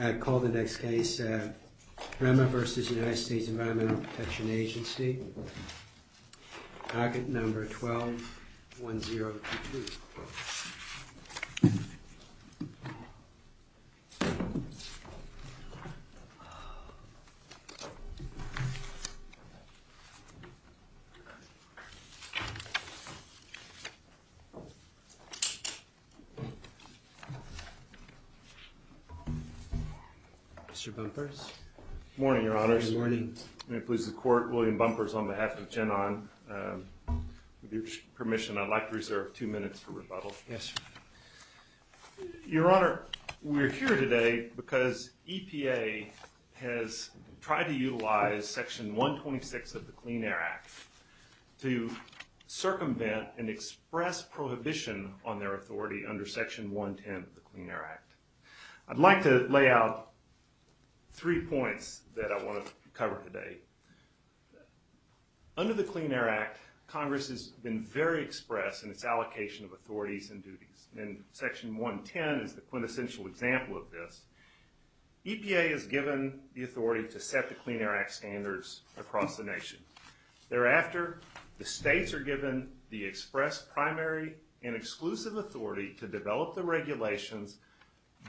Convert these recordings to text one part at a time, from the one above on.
I call the next case, Rema v. United States Environmental Protection Agency, packet number 121022. Mr. Bumpers? Good morning, Your Honors. Good morning. May it please the Court, William Bumpers on behalf of Genon. With your permission, I'd like to reserve two minutes for rebuttal. Yes, sir. Your Honor, we're here today because EPA has tried to utilize Section 126 of the Clean Air Act to circumvent and express prohibition on their authority under Section 110 of the Clean Air Act. I'd like to lay out three points that I want to cover today. Under the Clean Air Act, Congress has been very express in its allocation of authorities and duties, and Section 110 is the quintessential example of this. EPA is given the authority to set the Clean Air Act standards across the nation. Thereafter, the states are given the express primary and exclusive authority to develop the regulations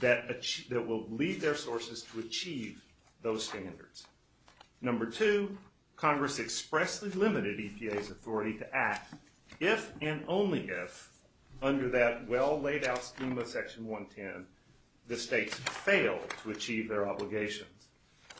that will lead their sources to achieve those standards. Number two, Congress expressly limited EPA's authority to act if and only if, under that well-laid-out scheme of Section 110, the states fail to achieve their obligations.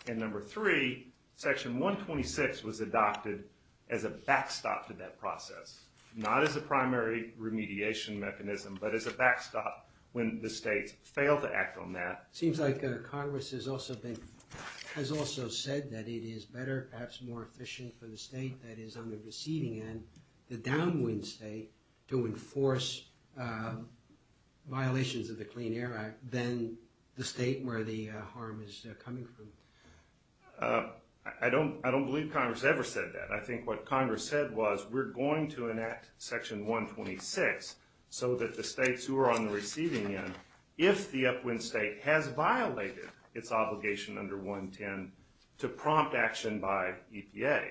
And number three, Section 126 was adopted as a backstop to that process, not as a primary remediation mechanism, but as a backstop when the states fail to act on that. It seems like Congress has also said that it is better, perhaps more efficient for the state that is on the receding end, the downwind state, to enforce violations of the Clean Air Act than the state where the harm is coming from. I don't believe Congress ever said that. I think what Congress said was, we're going to enact Section 126 so that the states who are on the receding end, if the upwind state has violated its obligation under 110, to prompt action by EPA.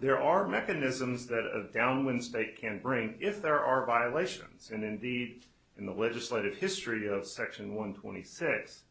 There are mechanisms that a downwind state can bring if there are violations. And indeed, in the legislative history of Section 126,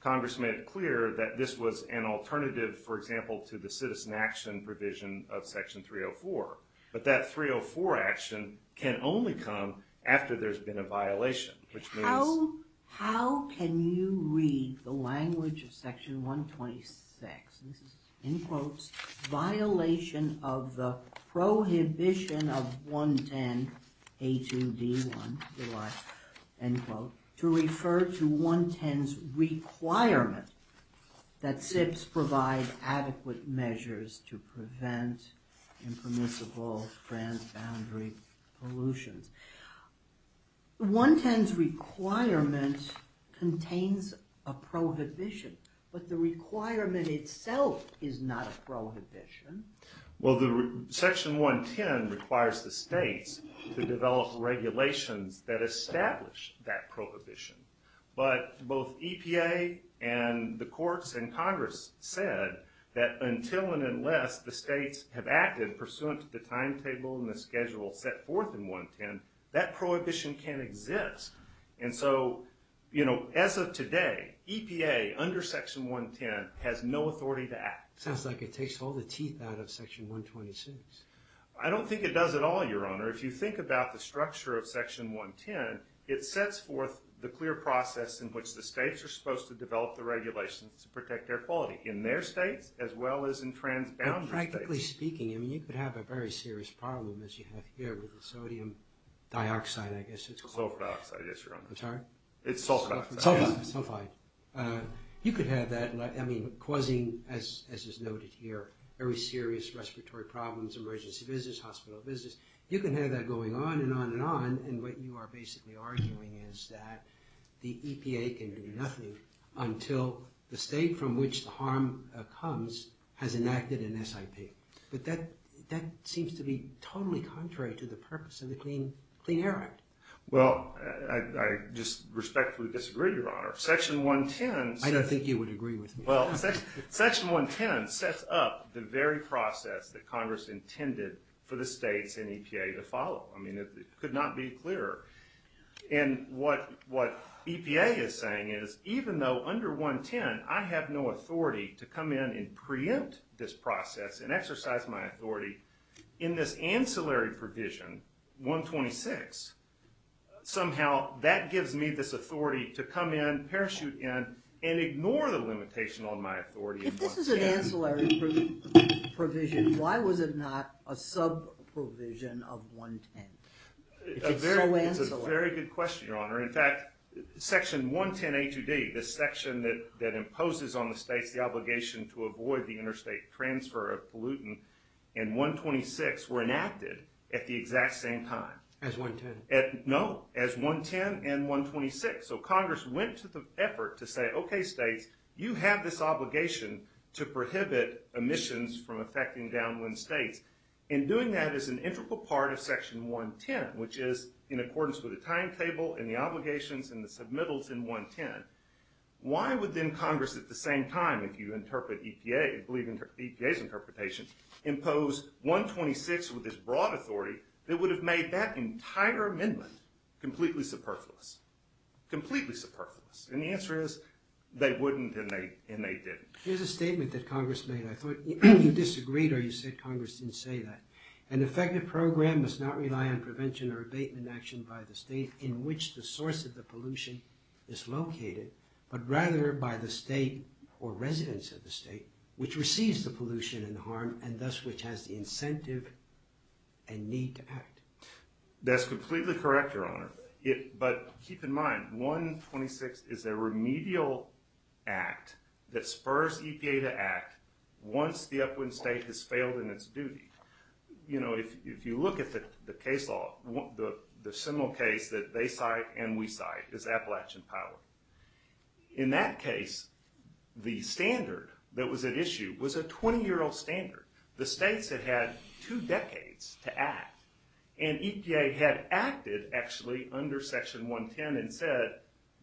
Congress made it clear that this was an alternative, for example, to the citizen action provision of Section 304. But that 304 action can only come after there's been a violation, which means... How can you read the language of Section 126? This is, in quotes, violation of the prohibition of 110, A2D1, July, end quote, to refer to 110's requirement that SIPs provide adequate measures to prevent impermissible transboundary pollutions. 110's requirement contains a prohibition, but the requirement itself is not a prohibition. Well, Section 110 requires the states to develop regulations that establish that prohibition. But both EPA and the courts and Congress said that until and unless the states have acted in pursuance of the timetable and the schedule set forth in 110, that prohibition can't exist. And so, as of today, EPA, under Section 110, has no authority to act. Sounds like it takes all the teeth out of Section 126. I don't think it does at all, Your Honor. If you think about the structure of Section 110, it sets forth the clear process in which the states are supposed to develop the regulations to protect air quality, in their states as well as in transboundary states. Practically speaking, you could have a very serious problem, as you have here with the sodium dioxide, I guess it's called. Sulfur dioxide, yes, Your Honor. I'm sorry? It's sulfide. Sulfide. You could have that causing, as is noted here, very serious respiratory problems, emergency visits, hospital visits. You can have that going on and on and on, and what you are basically arguing is that the EPA can do nothing until the state from which the harm comes has enacted an SIP. But that seems to be totally contrary to the purpose of the Clean Air Act. Well, I just respectfully disagree, Your Honor. Section 110 sets up the very process that Congress intended for the states and EPA to follow. I mean, it could not be clearer. And what EPA is saying is, even though under 110 I have no authority to come in and preempt this process and exercise my authority in this ancillary provision, 126, somehow that gives me this authority to come in, parachute in, and ignore the limitation on my authority in 110. If this is an ancillary provision, why was it not a sub-provision of 110? It's a very good question, Your Honor. In fact, Section 110A2D, the section that imposes on the states the obligation to avoid the interstate transfer of pollutant, and 126 were enacted at the exact same time. As 110. No, as 110 and 126. So Congress went to the effort to say, okay, states, you have this obligation to prohibit emissions from affecting downwind states. And doing that is an integral part of Section 110, which is in accordance with the timetable and the obligations and the submittals in 110. Why would then Congress at the same time, if you interpret EPA, believe EPA's interpretation, impose 126 with this broad authority that would have made that entire amendment completely superfluous? Completely superfluous. And the answer is, they wouldn't and they didn't. Here's a statement that Congress made. I thought you disagreed or you said Congress didn't say that. An effective program must not rely on prevention or abatement action by the state in which the source of the pollution is located, but rather by the state or residents of the state which receives the pollution and the harm and thus which has the incentive and need to act. That's completely correct, Your Honor. But keep in mind, 126 is a remedial act that spurs EPA to act once the upwind state has failed in its duty. You know, if you look at the case law, the seminal case that they cite and we cite is Appalachian Power. In that case, the standard that was at issue was a 20-year-old standard. The states had had two decades to act and EPA had acted actually under Section 110 and said,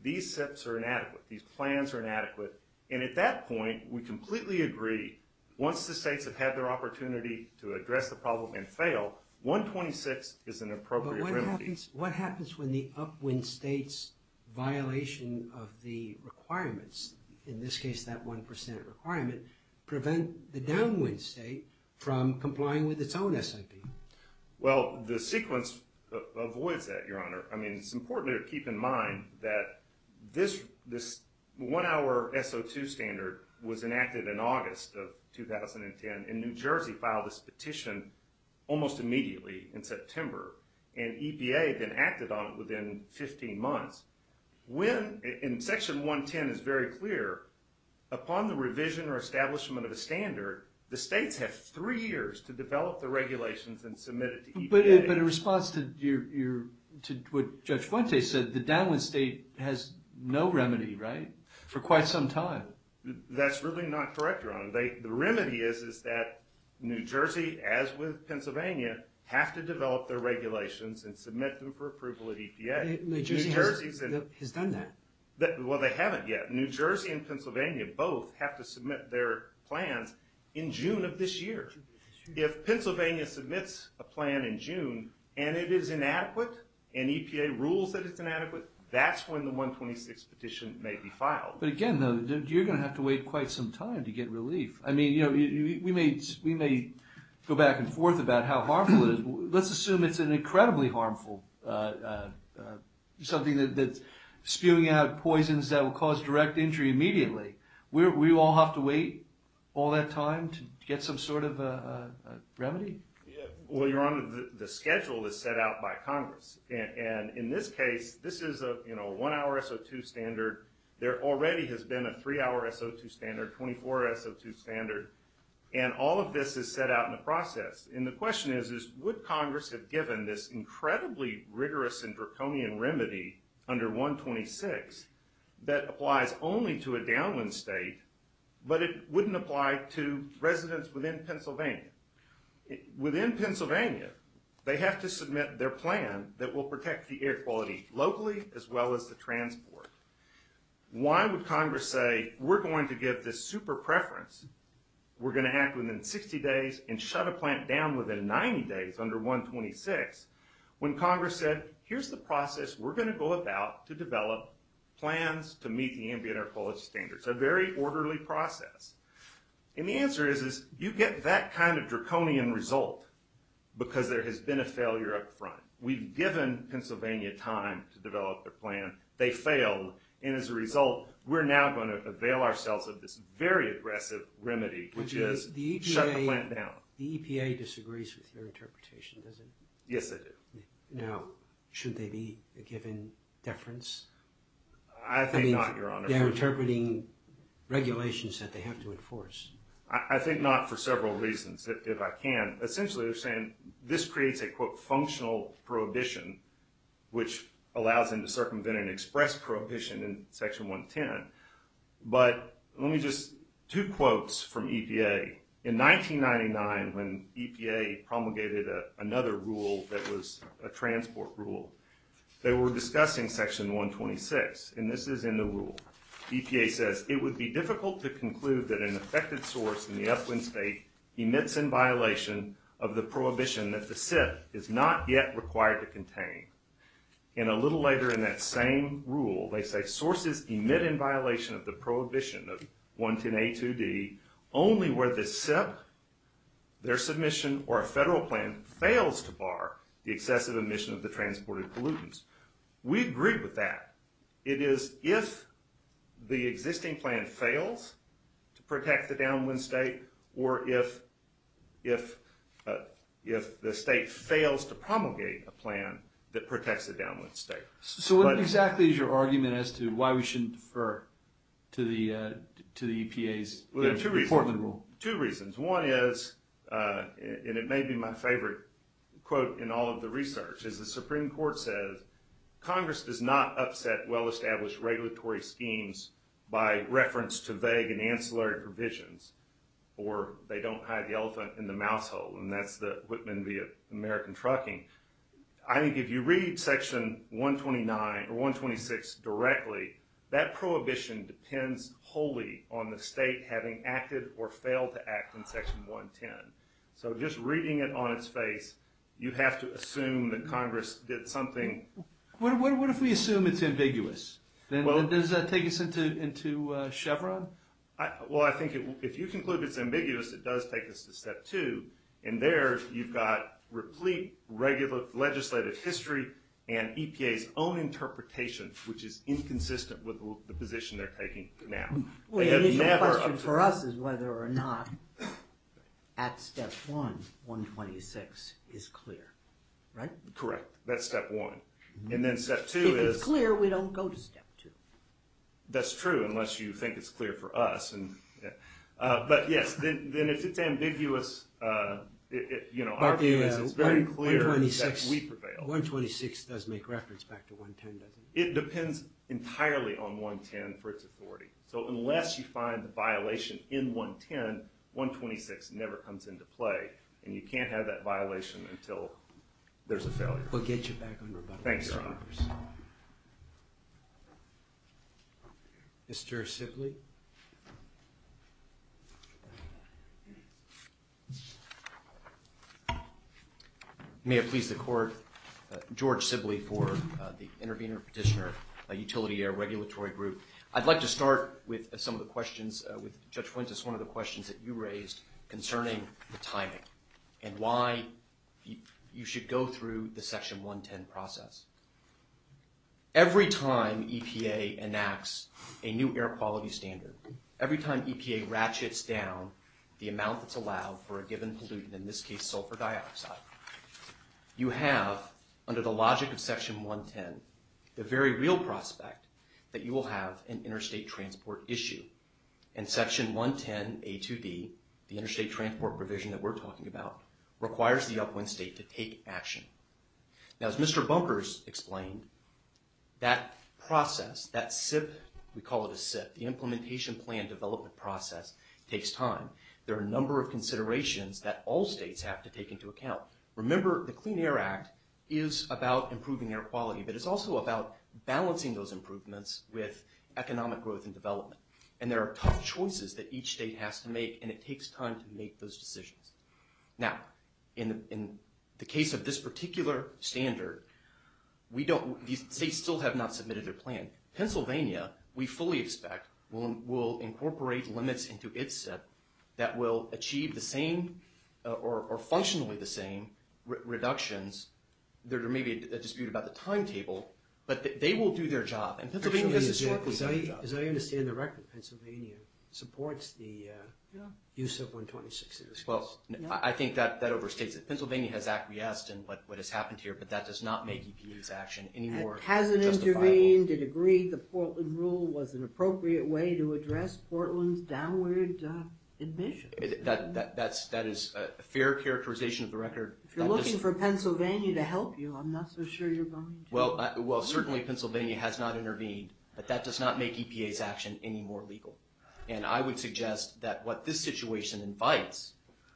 these steps are inadequate, these plans are inadequate. And at that point, we completely agree, once the states have had their opportunity to address the problem and fail, 126 is an appropriate remedy. In that case, what happens when the upwind state's violation of the requirements, in this case that 1% requirement, prevent the downwind state from complying with its own SIP? Well, the sequence avoids that, Your Honor. I mean, it's important to keep in mind that this one-hour SO2 standard was enacted in August of 2010 and New Jersey filed this petition almost immediately in September. And EPA then acted on it within 15 months. When, and Section 110 is very clear, upon the revision or establishment of a standard, the states have three years to develop the regulations and submit it to EPA. But in response to what Judge Fuente said, the downwind state has no remedy, right? For quite some time. That's really not correct, Your Honor. The remedy is that New Jersey, as with Pennsylvania, have to develop their regulations and submit them for approval at EPA. New Jersey has done that. Well, they haven't yet. New Jersey and Pennsylvania both have to submit their plans in June of this year. If Pennsylvania submits a plan in June and it is inadequate and EPA rules that it's inadequate, that's when the 126 petition may be filed. But again, though, you're going to have to wait quite some time to get relief. I mean, you know, we may go back and forth about how harmful it is. Let's assume it's an incredibly harmful, something that's spewing out poisons that will cause direct injury immediately. We all have to wait all that time to get some sort of remedy? Well, Your Honor, the schedule is set out by Congress. And in this case, this is a one-hour SO2 standard. There already has been a three-hour SO2 standard, 24 SO2 standard. And all of this is set out in the process. And the question is, would Congress have given this incredibly rigorous and draconian remedy under 126 that applies only to a downwind state, but it wouldn't apply to residents within Pennsylvania? Within Pennsylvania, they have to submit their plan that will protect the air quality locally as well as the transport. Why would Congress say, we're going to give this super preference, we're going to act within 60 days and shut a plant down within 90 days under 126, when Congress said, here's the process we're going to go about to develop plans to meet the ambient air quality standards. A very orderly process. And the answer is, you get that kind of draconian result because there has been a failure up front. We've given Pennsylvania time to develop their plan. They failed. And as a result, we're now going to avail ourselves of this very aggressive remedy, which is shut the plant down. The EPA disagrees with your interpretation, does it? Yes, they do. Now, should they be given deference? I think not, Your Honor. They're interpreting regulations that they have to enforce. I think not for several reasons, if I can. Essentially, they're saying this creates a, quote, functional prohibition, which allows them to circumvent and express prohibition in Section 110. But let me just, two quotes from EPA. In 1999, when EPA promulgated another rule that was a transport rule, they were discussing Section 126. And this is in the rule. EPA says, It would be difficult to conclude that an affected source in the upwind state emits in violation of the prohibition that the SIP is not yet required to contain. And a little later in that same rule, they say, Sources emit in violation of the prohibition of 110A2D only where the SIP, their submission, or a federal plan fails to bar the excessive emission of the transported pollutants. We agree with that. It is if the existing plan fails to protect the downwind state, or if the state fails to promulgate a plan that protects the downwind state. So what exactly is your argument as to why we shouldn't defer to the EPA's Portland rule? Two reasons. One is, and it may be my favorite quote in all of the research, is the Supreme Court says, Congress does not upset well-established regulatory schemes by reference to vague and ancillary provisions. Or they don't hide the elephant in the mouse hole. And that's the Whitman v. American Trucking. I think if you read Section 129 or 126 directly, that prohibition depends wholly on the state having acted or failed to act in Section 110. So just reading it on its face, you have to assume that Congress did something. What if we assume it's ambiguous? Does that take us into Chevron? Well, I think if you conclude it's ambiguous, it does take us to Step 2. And there you've got replete legislative history and EPA's own interpretation, which is inconsistent with the position they're taking now. Well, the question for us is whether or not at Step 1, 126, is clear. Right? Correct. That's Step 1. If it's clear, we don't go to Step 2. That's true, unless you think it's clear for us. But yes, then if it's ambiguous, our view is it's very clear that we prevail. 126 does make reference back to 110, doesn't it? It depends entirely on 110 for its authority. So unless you find a violation in 110, 126 never comes into play. And you can't have that violation until there's a failure. We'll get you back on rebuttal. Thanks, Your Honor. Mr. Sibley? May it please the Court, George Sibley for the Intervenor Petitioner Utility Air Regulatory Group. I'd like to start with some of the questions with Judge Fuentes, one of the questions that you raised concerning the timing and why you should go through the Section 110 process. Every time EPA enacts a new air quality standard, every time EPA ratchets down the amount that's allowed for a given pollutant, in this case sulfur dioxide, you have, under the logic of Section 110, the very real prospect that you will have an interstate transport issue. And Section 110 A2D, the interstate transport provision that we're talking about, requires the upwind state to take action. Now, as Mr. Bunkers explained, that process, that SIP, we call it a SIP, the Implementation Plan Development Process, takes time. There are a number of considerations that all states have to take into account. Remember, the Clean Air Act is about improving air quality, but it's also about balancing those improvements with economic growth and development. And there are tough choices that each state has to make, and it takes time to make those decisions. Now, in the case of this particular standard, these states still have not submitted their plan. Pennsylvania, we fully expect, will incorporate limits into its SIP that will achieve the same, or functionally the same, reductions. There may be a dispute about the timetable, but they will do their job, and Pennsylvania has historically done their job. As I understand the record, Pennsylvania supports the use of 126 in this case. Well, I think that overstates it. Pennsylvania has acquiesced in what has happened here, but that does not make EPA's action any more justifiable. It hasn't intervened, it agreed the Portland Rule was an appropriate way to address Portland's downward emissions. That is a fair characterization of the record. If you're looking for Pennsylvania to help you, I'm not so sure you're going to. Well, certainly Pennsylvania has not intervened, but that does not make EPA's action any more legal. And I would suggest that what this situation invites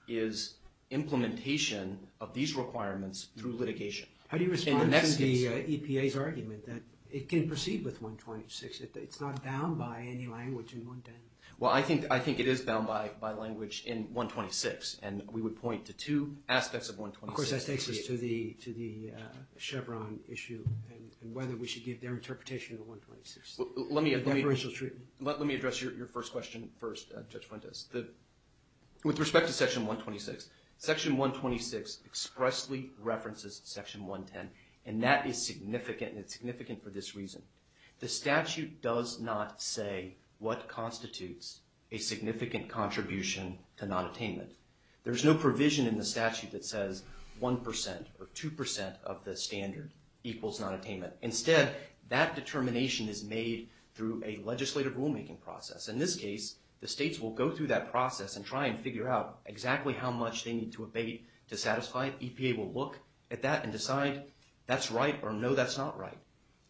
is implementation of these requirements through litigation. How do you respond to EPA's argument that it can proceed with 126? It's not bound by any language in 110. Well, I think it is bound by language in 126, and we would point to two aspects of 126. Of course, that takes us to the Chevron issue and whether we should give their interpretation of 126. Let me address your first question first, Judge Fuentes. With respect to Section 126, Section 126 expressly references Section 110, and that is significant, and it's significant for this reason. The statute does not say what constitutes a significant contribution to nonattainment. There's no provision in the statute that says 1% or 2% of the standard equals nonattainment. Instead, that determination is made through a legislative rulemaking process. In this case, the states will go through that process and try and figure out exactly how much they need to abate to satisfy it. EPA will look at that and decide that's right or no, that's not right.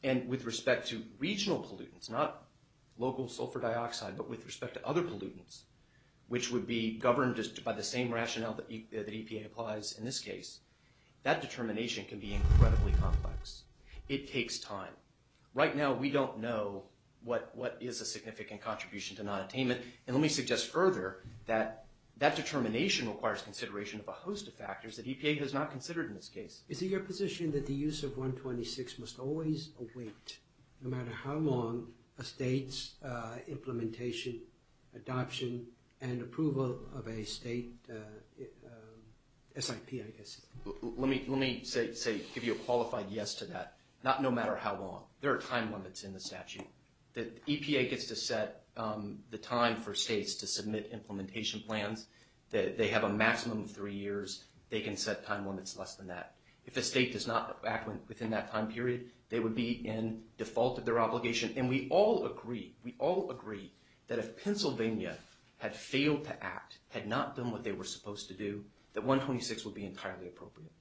And with respect to regional pollutants, not local sulfur dioxide, but with respect to other pollutants, which would be governed just by the same rationale that EPA applies in this case, that determination can be incredibly complex. It takes time. Right now, we don't know what is a significant contribution to nonattainment, and let me suggest further that that determination requires consideration of a host of factors that EPA has not considered in this case. Is it your position that the use of 126 must always await, no matter how long, a state's implementation, adoption, and approval of a state SIP, I guess? Let me give you a qualified yes to that. Not no matter how long. There are time limits in the statute. The EPA gets to set the time for states to submit implementation plans. They have a maximum of three years. They can set time limits less than that. If a state does not act within that time period, they would be in default of their obligation. We all agree that if Pennsylvania had failed to act, had not done what they were supposed to do, that 126 would be entirely appropriate.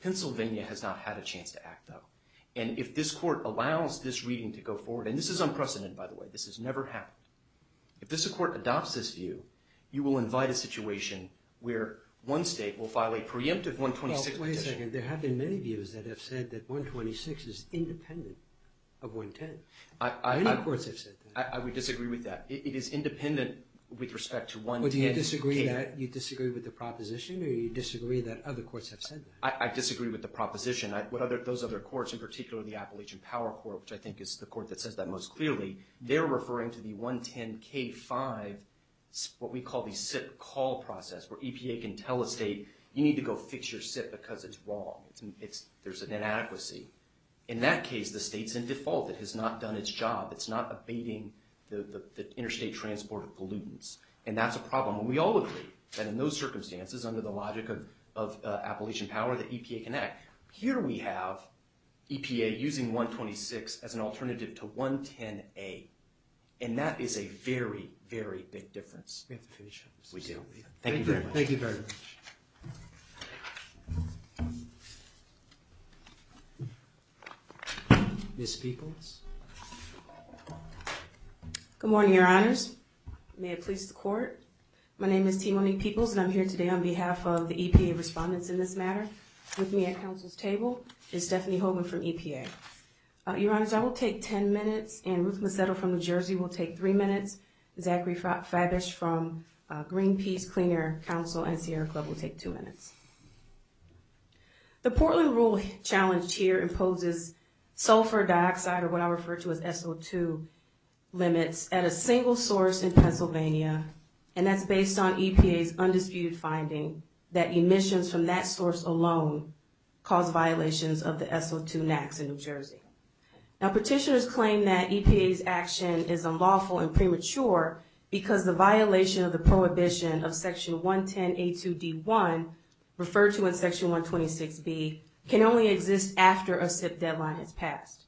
Pennsylvania has not had a chance to act, though. If this court allows this reading to go forward, and this is unprecedented, by the way. This has never happened. If this court adopts this view, you will invite a situation where one state will file a preemptive 126 petition. Wait a second. There have been many views that have said that 126 is independent of 110. Many courts have said that. I would disagree with that. It is independent with respect to 110. Do you disagree with that? Do you disagree with the proposition, or do you disagree that other courts have said that? I disagree with the proposition. Those other courts, in particular the Appalachian Power Court, which I think is the court that says that most clearly, they're referring to the 110k5, what we call the SIP call process, where EPA can tell a state, you need to go fix your SIP because it's wrong. There's an inadequacy. In that case, the state's in default. It has not done its job. It's not abating the interstate transport of pollutants. And that's a problem. And we all agree that in those circumstances, under the logic of Appalachian Power, that EPA can act. Here we have EPA using 126 as an alternative to 110a. And that is a very, very big difference. We have to finish up. We do. Thank you very much. Thank you very much. Ms. Peeples? Good morning, Your Honors. May it please the Court. My name is Timoni Peeples, and I'm here today on behalf of the EPA respondents in this matter. With me at counsel's table is Stephanie Hogan from EPA. Your Honors, I will take 10 minutes, and Ruth Macedo from New Jersey will take three minutes. Zachary Fabish from Greenpeace Clean Air Council and Sierra Club will take two minutes. The Portland Rule challenge here imposes sulfur dioxide, or what I refer to as SO2, limits at a single source in Pennsylvania, and that's based on EPA's undisputed finding that emissions from that source alone cause violations of the SO2 NAAQS in New Jersey. Now, petitioners claim that EPA's action is unlawful and premature because the violation of the prohibition of Section 110a2d1, referred to in Section 126b, can only exist after a SIP deadline has passed.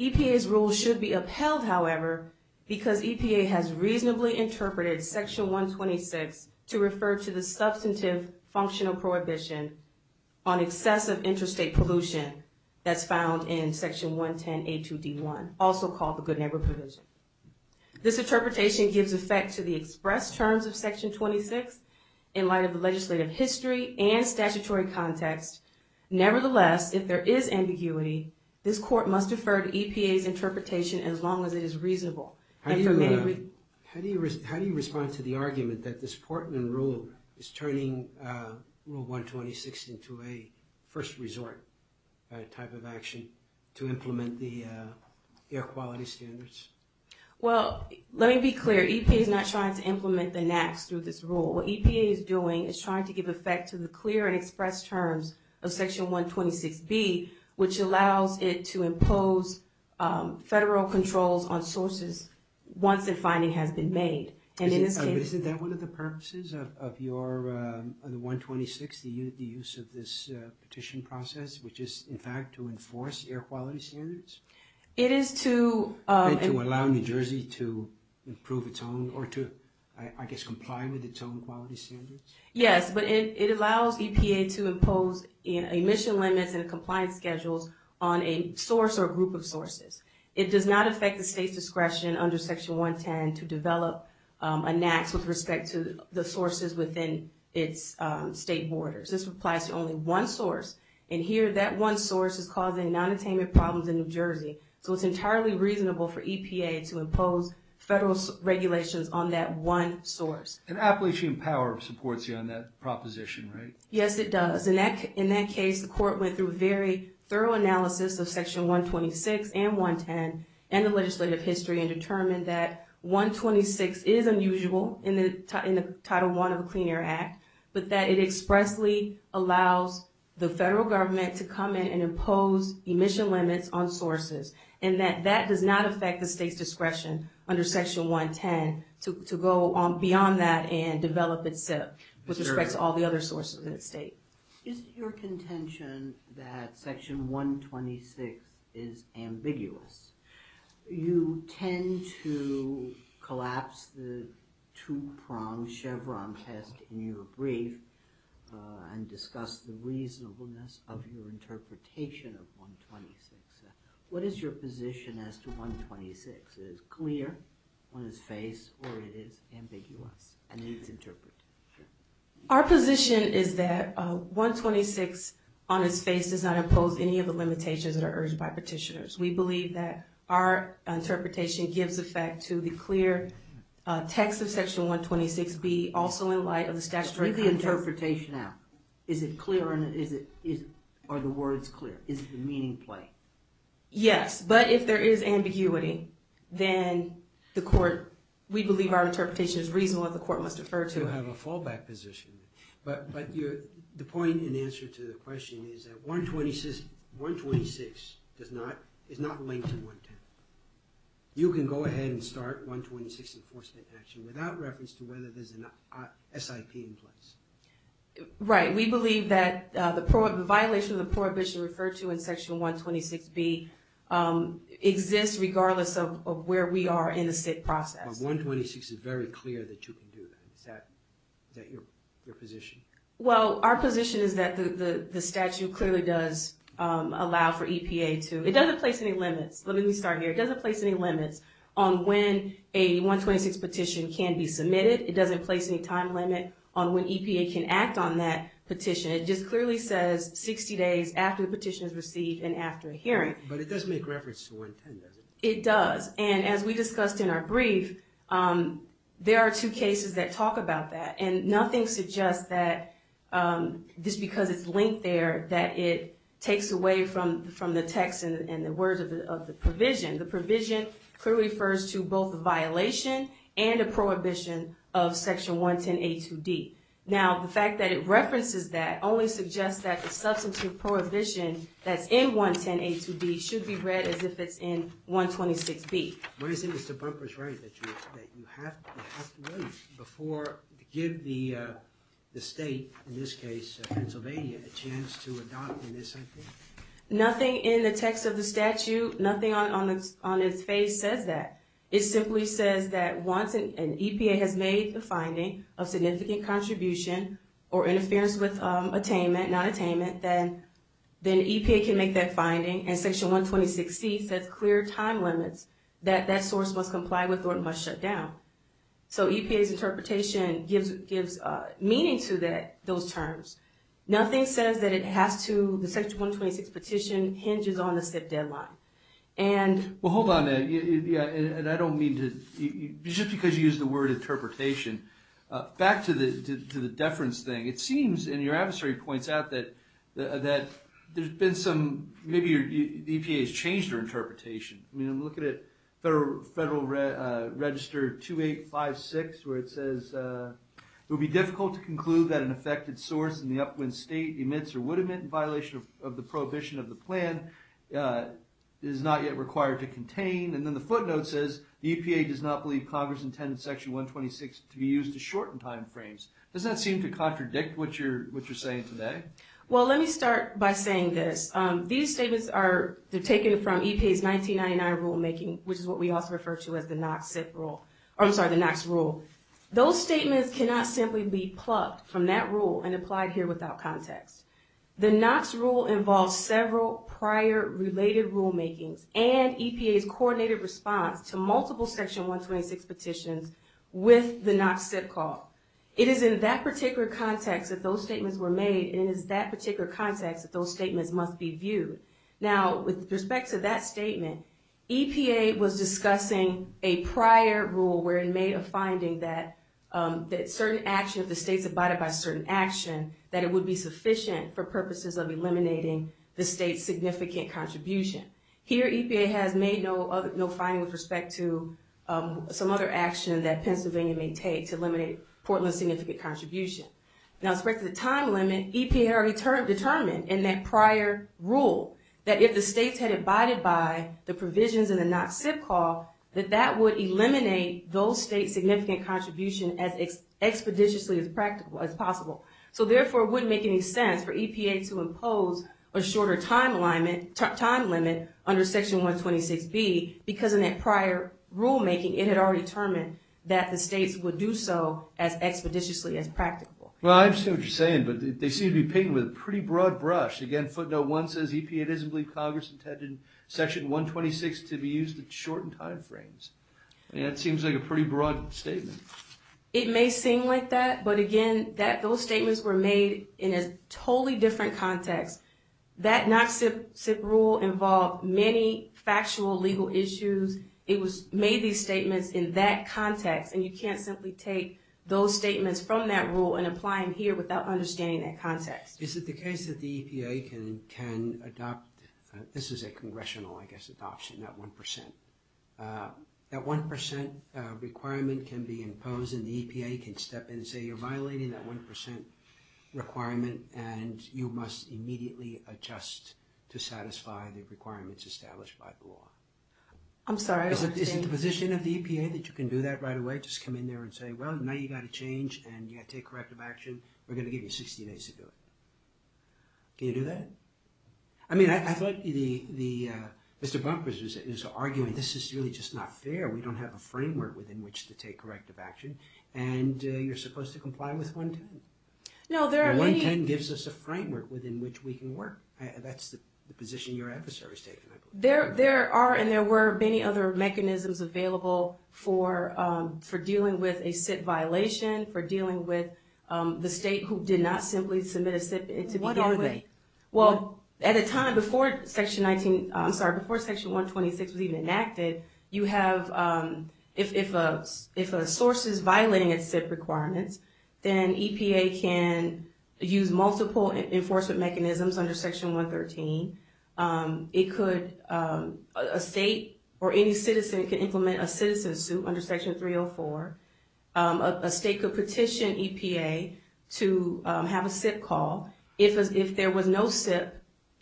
EPA's rule should be upheld, however, because EPA has reasonably interpreted Section 126 to refer to the substantive functional prohibition on excessive interstate pollution that's found in Section 110a2d1, also called the Good Neighbor Provision. This interpretation gives effect to the express terms of Section 26 in light of the legislative history and statutory context. Nevertheless, if there is ambiguity, this court must defer to EPA's interpretation as long as it is reasonable. How do you respond to the argument that this Portland Rule is turning Rule 126 into a first resort type of action to implement the air quality standards? Well, let me be clear. EPA is not trying to implement the NAAQS through this rule. What EPA is doing is trying to give effect to the clear and express terms of Section 126b, which allows it to impose federal controls on sources once a finding has been made. But isn't that one of the purposes of your, of the 126, the use of this petition process, which is, in fact, to enforce air quality standards? It is to... To allow New Jersey to improve its own, or to, I guess, comply with its own quality standards? Yes, but it allows EPA to impose emission limits and compliance schedules on a source or a group of sources. It does not affect the state's discretion under Section 110 to develop a NAAQS with respect to the sources within its state borders. This applies to only one source. And here, that one source is causing nonattainment problems in New Jersey. So it's entirely reasonable for EPA to impose federal regulations on that one source. And Appalachian Power supports you on that proposition, right? Yes, it does. In that case, the court went through a very thorough analysis of Section 126 and 110 and the legislative history and determined that 126 is unusual in the Title I of the Clean Air Act, but that it expressly allows the federal government to come in and impose emission limits on sources. And that that does not affect the state's discretion under Section 110 to go beyond that and develop itself with respect to all the other sources in the state. Is it your contention that Section 126 is ambiguous? You tend to collapse the two-pronged Chevron test in your brief and discuss the reasonableness of your interpretation of 126. What is your position as to 126? Is it clear on its face or is it ambiguous? And it's interpreted. Our position is that 126 on its face does not impose any of the limitations that are urged by petitioners. We believe that our interpretation gives effect to the clear text of Section 126B, also in light of the statutory context. Read the interpretation out. Is it clear or are the words clear? Is the meaning plain? Yes, but if there is ambiguity, then we believe our interpretation is reasonable and the court must defer to it. You have a fallback position. But the point in answer to the question is that 126 is not linked to 110. You can go ahead and start 126 enforcement action without reference to whether there's an SIP in place. Right, we believe that the violation of the prohibition referred to in Section 126B exists regardless of where we are in the SIT process. But 126 is very clear that you can do that. Is that your position? Well, our position is that the statute clearly does allow for EPA to – it doesn't place any limits. Let me start here. It doesn't place any limits on when a 126 petition can be submitted. It doesn't place any time limit on when EPA can act on that petition. It just clearly says 60 days after the petition is received and after a hearing. But it does make reference to 110, does it? It does. And as we discussed in our brief, there are two cases that talk about that. And nothing suggests that just because it's linked there that it takes away from the text and the words of the provision. The provision clearly refers to both a violation and a prohibition of Section 110A2D. Now, the fact that it references that only suggests that the substantive prohibition that's in 110A2D should be read as if it's in 126B. But isn't Mr. Bumper's right that you have to wait before – give the state, in this case Pennsylvania, a chance to adopt in this cycle? Nothing in the text of the statute, nothing on its face says that. It simply says that once an EPA has made the finding of significant contribution or interference with attainment, not attainment, then EPA can make that finding. And Section 126C says clear time limits that that source must comply with or it must shut down. So EPA's interpretation gives meaning to those terms. Nothing says that it has to – the Section 126 petition hinges on a set deadline. Well, hold on, Ed. I don't mean to – just because you used the word interpretation. Back to the deference thing. It seems, and your adversary points out that there's been some – maybe the EPA has changed their interpretation. I mean, I'm looking at Federal Register 2856 where it says, it would be difficult to conclude that an affected source in the upwind state emits or would emit in violation of the prohibition of the plan. It is not yet required to contain. And then the footnote says the EPA does not believe Congress intended Section 126 to be used to shorten time frames. Does that seem to contradict what you're saying today? Well, let me start by saying this. These statements are – they're taken from EPA's 1999 rulemaking, which is what we also refer to as the Knox rule. Those statements cannot simply be plucked from that rule and applied here without context. The Knox rule involves several prior related rulemakings and EPA's coordinated response to multiple Section 126 petitions with the Knox SIP call. It is in that particular context that those statements were made, and it is in that particular context that those statements must be viewed. Now, with respect to that statement, EPA was discussing a prior rule where it made a finding that certain action of the states abided by certain action, that it would be sufficient for purposes of eliminating the state's significant contribution. Here EPA has made no finding with respect to some other action that Pennsylvania may take to eliminate Portland's significant contribution. Now, with respect to the time limit, EPA had already determined in that prior rule that if the states had abided by the provisions in the Knox SIP call, that that would eliminate those states' significant contribution as expeditiously as possible. So, therefore, it wouldn't make any sense for EPA to impose a shorter time limit under Section 126B because in that prior rulemaking, it had already determined that the states would do so as expeditiously as practical. Well, I understand what you're saying, but they seem to be painting with a pretty broad brush. Again, footnote one says EPA doesn't believe Congress intended Section 126 to be used to shorten time frames. I mean, that seems like a pretty broad statement. It may seem like that, but again, those statements were made in a totally different context. That Knox SIP rule involved many factual legal issues. It made these statements in that context, and you can't simply take those statements from that rule and apply them here without understanding that context. Is it the case that the EPA can adopt? This is a congressional, I guess, adoption, that 1%. That 1% requirement can be imposed, and the EPA can step in and say, you're violating that 1% requirement, and you must immediately adjust to satisfy the requirements established by the law. I'm sorry, I don't understand. Is it the position of the EPA that you can do that right away, just come in there and say, well, now you've got to change and you've got to take corrective action. We're going to give you 60 days to do it. Can you do that? I mean, I thought Mr. Bumpers is arguing this is really just not fair. We don't have a framework within which to take corrective action, and you're supposed to comply with 110. No, there are many... 110 gives us a framework within which we can work. That's the position your adversary is taking, I believe. There are and there were many other mechanisms available for dealing with a SIP violation, for dealing with the state who did not simply submit a SIP to begin with. What are they? Well, at a time before Section 19, I'm sorry, before Section 126 was even enacted, you have, if a source is violating a SIP requirement, then EPA can use multiple enforcement mechanisms under Section 113. A state or any citizen can implement a citizen suit under Section 304. A state could petition EPA to have a SIP call. If there was no SIP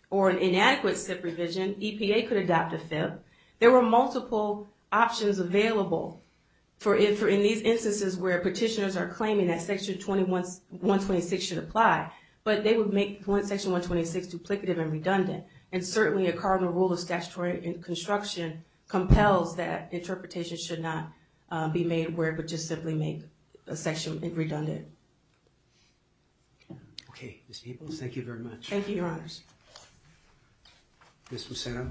or an inadequate SIP revision, EPA could adopt a FIP. There were multiple options available in these instances where petitioners are claiming that Section 126 should apply, but they would make Section 126 duplicative and redundant, and certainly a cardinal rule of statutory construction compels that interpretations should not be made where it would just simply make a section redundant. Okay, Ms. Peebles, thank you very much. Thank you, Your Honors. Ms. Moceno.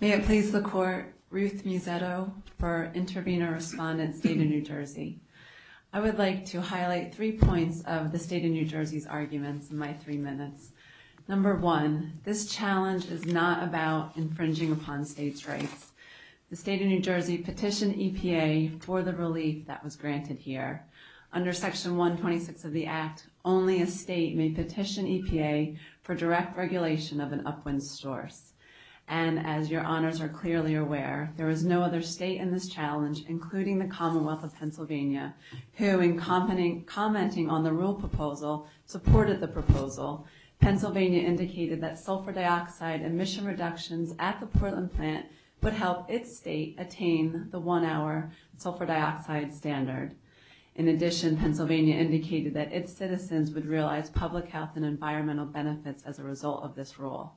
May it please the Court, Ruth Musetto for Intervenor-Respondent State of New Jersey. I would like to highlight three points of the State of New Jersey's arguments in my three minutes. Number one, this challenge is not about infringing upon states' rights. The State of New Jersey petitioned EPA for the relief that was granted here. Under Section 126 of the Act, only a state may petition EPA for direct regulation of an upwind source. And as Your Honors are clearly aware, there is no other state in this challenge, including the Commonwealth of Pennsylvania, who in commenting on the rule proposal supported the proposal. Pennsylvania indicated that sulfur dioxide emission reductions at the Portland plant would help its state attain the one-hour sulfur dioxide standard. In addition, Pennsylvania indicated that its citizens would realize public health and environmental benefits as a result of this rule.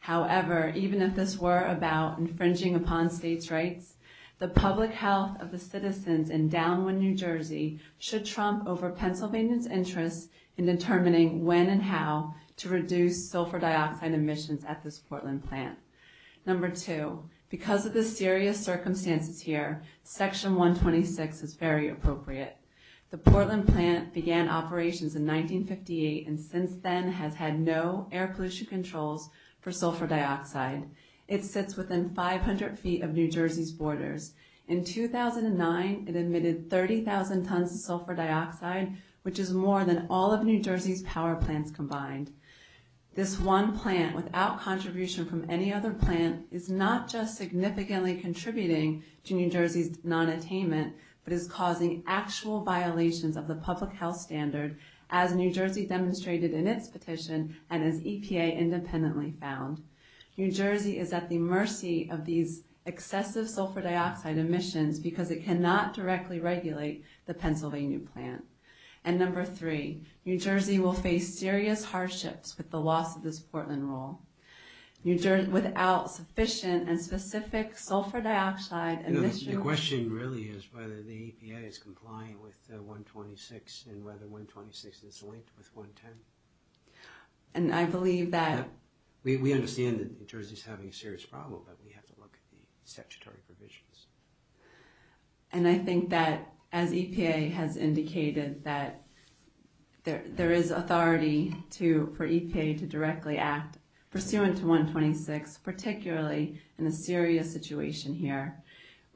However, even if this were about infringing upon states' rights, the public health of the citizens in Downwind, New Jersey should trump over Pennsylvania's interest in determining when and how to reduce sulfur dioxide emissions at this Portland plant. Number two, because of the serious circumstances here, Section 126 is very appropriate. The Portland plant began operations in 1958 and since then has had no air pollution controls for sulfur dioxide. It sits within 500 feet of New Jersey's borders. In 2009, it emitted 30,000 tons of sulfur dioxide, which is more than all of New Jersey's power plants combined. This one plant, without contribution from any other plant, is not just significantly contributing to New Jersey's nonattainment, but is causing actual violations of the public health standard, as New Jersey demonstrated in its petition and as EPA independently found. New Jersey is at the mercy of these excessive sulfur dioxide emissions because it cannot directly regulate the Pennsylvania plant. And number three, New Jersey will face serious hardships with the loss of this Portland rule. Without sufficient and specific sulfur dioxide emissions... The question really is whether the EPA is compliant with 126 and whether 126 is linked with 110. And I believe that... We understand that New Jersey's having a serious problem, but we have to look at the statutory provisions. And I think that, as EPA has indicated, that there is authority for EPA to directly act pursuant to 126, particularly in a serious situation here.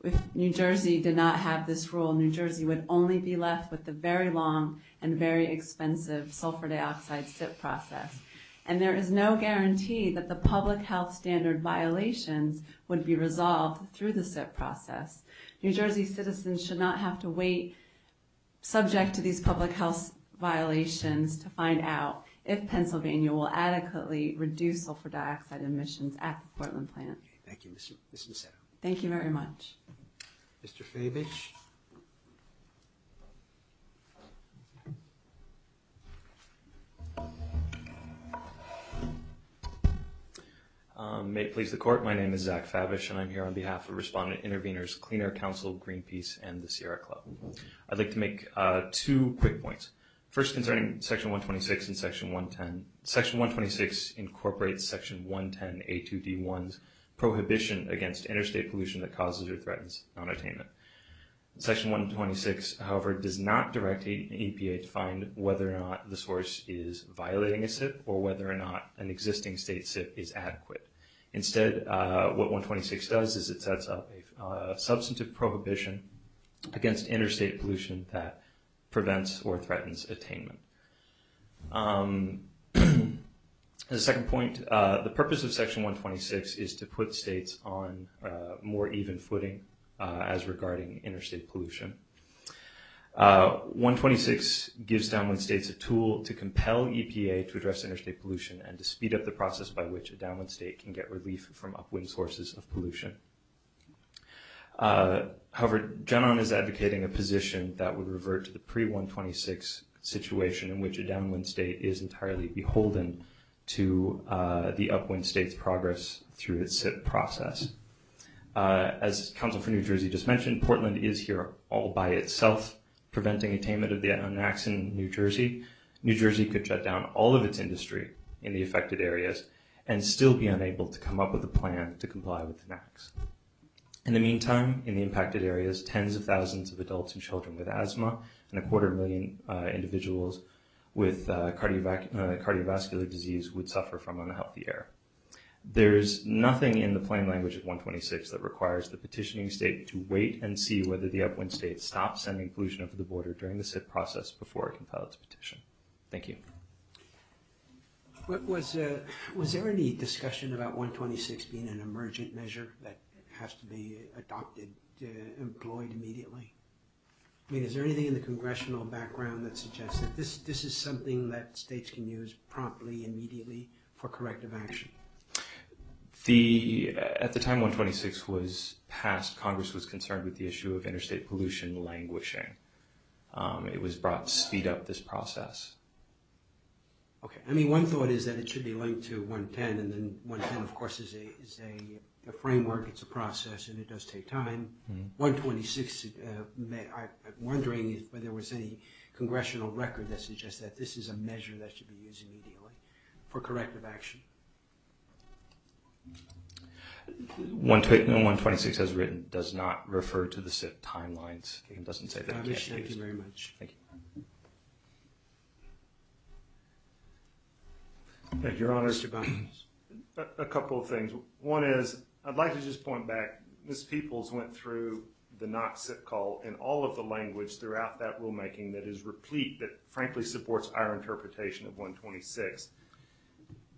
If New Jersey did not have this rule, New Jersey would only be left with the very long and very expensive sulfur dioxide SIP process. And there is no guarantee that the public health standard violations would be resolved through the SIP process. New Jersey citizens should not have to wait, subject to these public health violations, to find out if Pennsylvania will adequately reduce sulfur dioxide emissions at the Portland plant. Thank you, Ms. Niseto. Thank you very much. Mr. Fabich? May it please the Court. My name is Zach Fabich, and I'm here on behalf of Respondent Intervenors Clean Air Council, Greenpeace, and the Sierra Club. I'd like to make two quick points, first concerning Section 126 and Section 110. Section 126 incorporates Section 110A2D1's prohibition against interstate pollution that causes or threatens nonattainment. Section 126, however, does not direct EPA to find whether or not the source is violating a SIP or whether or not an existing state SIP is adequate. Instead, what 126 does is it sets up a substantive prohibition against interstate pollution that prevents or threatens attainment. As a second point, the purpose of Section 126 is to put states on more even footing as regarding interstate pollution. 126 gives downwind states a tool to compel EPA to address interstate pollution and to speed up the process by which a downwind state can get relief from upwind sources of pollution. However, GenOn is advocating a position that would revert to the pre-126 situation in which a downwind state is entirely beholden to the upwind state's progress through its SIP process. As Counsel for New Jersey just mentioned, Portland is here all by itself preventing attainment of the NAAQS in New Jersey. New Jersey could shut down all of its industry in the affected areas and still be unable to come up with a plan to comply with the NAAQS. In the meantime, in the impacted areas, tens of thousands of adults and children with asthma and a quarter million individuals with cardiovascular disease would suffer from unhealthy air. There's nothing in the plain language of 126 that requires the petitioning state to wait and see whether the upwind state stops sending pollution over the border during the SIP process before it can file its petition. Thank you. Was there any discussion about 126 being an emergent measure that has to be adopted, employed immediately? I mean, is there anything in the congressional background that suggests that this is something that states can use promptly, immediately for corrective action? At the time 126 was passed, Congress was concerned with the issue of interstate pollution languishing. It was brought to speed up this process. Okay. I mean, one thought is that it should be linked to 110, and then 110, of course, is a framework, it's a process, and it does take time. 126, I'm wondering if there was any congressional record that suggests that this is a measure that should be used immediately for corrective action. No, 126, as written, does not refer to the SIP timelines. It doesn't say that. Thank you very much. Thank you. Your Honor, a couple of things. One is, I'd like to just point back, Ms. Peoples went through the NOC SIP call in all of the language throughout that rulemaking that is replete, that frankly supports our interpretation of 126.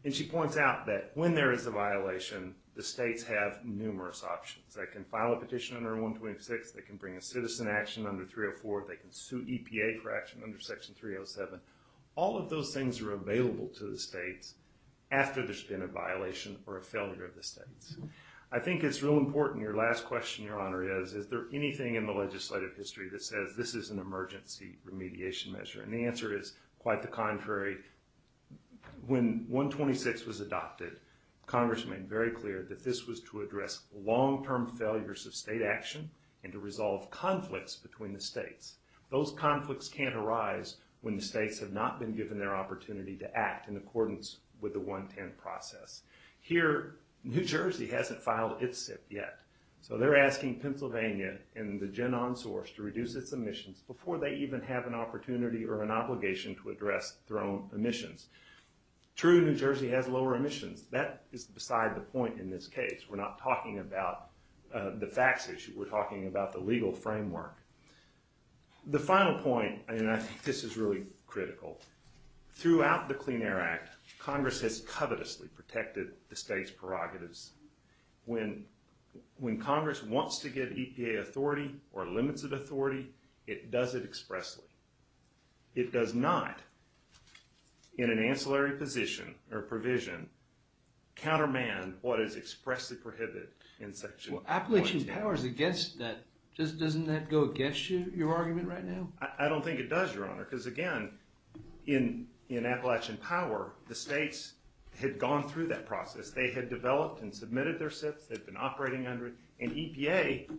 And she points out that when there is a violation, the states have numerous options. They can file a petition under 126. They can bring a citizen action under 304. They can sue EPA for action under Section 307. All of those things are available to the states after there's been a violation or a failure of the states. I think it's real important, your last question, Your Honor, is, is there anything in the legislative history that says this is an emergency remediation measure? And the answer is, quite the contrary. When 126 was adopted, Congress made very clear that this was to address long-term failures of state action and to resolve conflicts between the states. Those conflicts can't arise when the states have not been given their opportunity to act in accordance with the 110 process. Here, New Jersey hasn't filed its SIP yet. So they're asking Pennsylvania and the gen on source to reduce its emissions before they even have an opportunity or an obligation to address their own emissions. True, New Jersey has lower emissions. That is beside the point in this case. We're not talking about the facts issue. We're talking about the legal framework. The final point, and I think this is really critical, throughout the Clean Air Act, Congress has covetously protected the states' prerogatives. When Congress wants to give EPA authority or limits of authority, it does it expressly. It does not, in an ancillary position or provision, countermand what is expressly prohibited in section 110. Well, Appalachian Power is against that. Doesn't that go against your argument right now? I don't think it does, Your Honor, because again, in Appalachian Power, the states had gone through that process. They had developed and submitted their SIPs. They'd been operating under it. And EPA,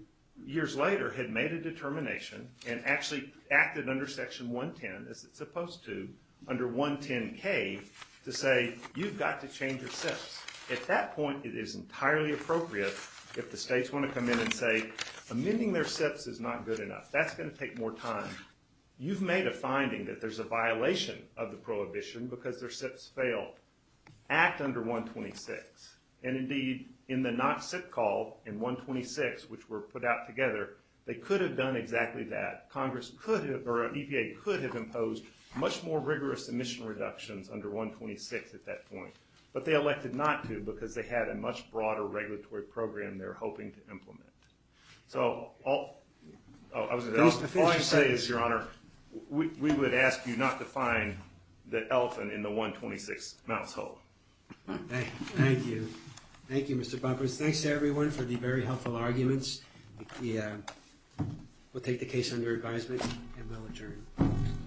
years later, had made a determination and actually acted under section 110, as it's supposed to, under 110K, to say, you've got to change your SIPs. At that point, it is entirely appropriate if the states want to come in and say, amending their SIPs is not good enough. That's going to take more time. You've made a finding that there's a violation of the prohibition because their SIPs failed. Act under 126. And indeed, in the not SIP call in 126, which were put out together, they could have done exactly that. Congress could have, or EPA could have imposed much more rigorous emission reductions under 126 at that point. But they elected not to because they had a much broader regulatory program they were hoping to implement. So all I say is, Your Honor, we would ask you not to find the elephant in the 126 mouth hole. Thank you. Thank you, Mr. Buffers. Thanks to everyone for the very helpful arguments. We'll take the case under advisement, and we'll adjourn.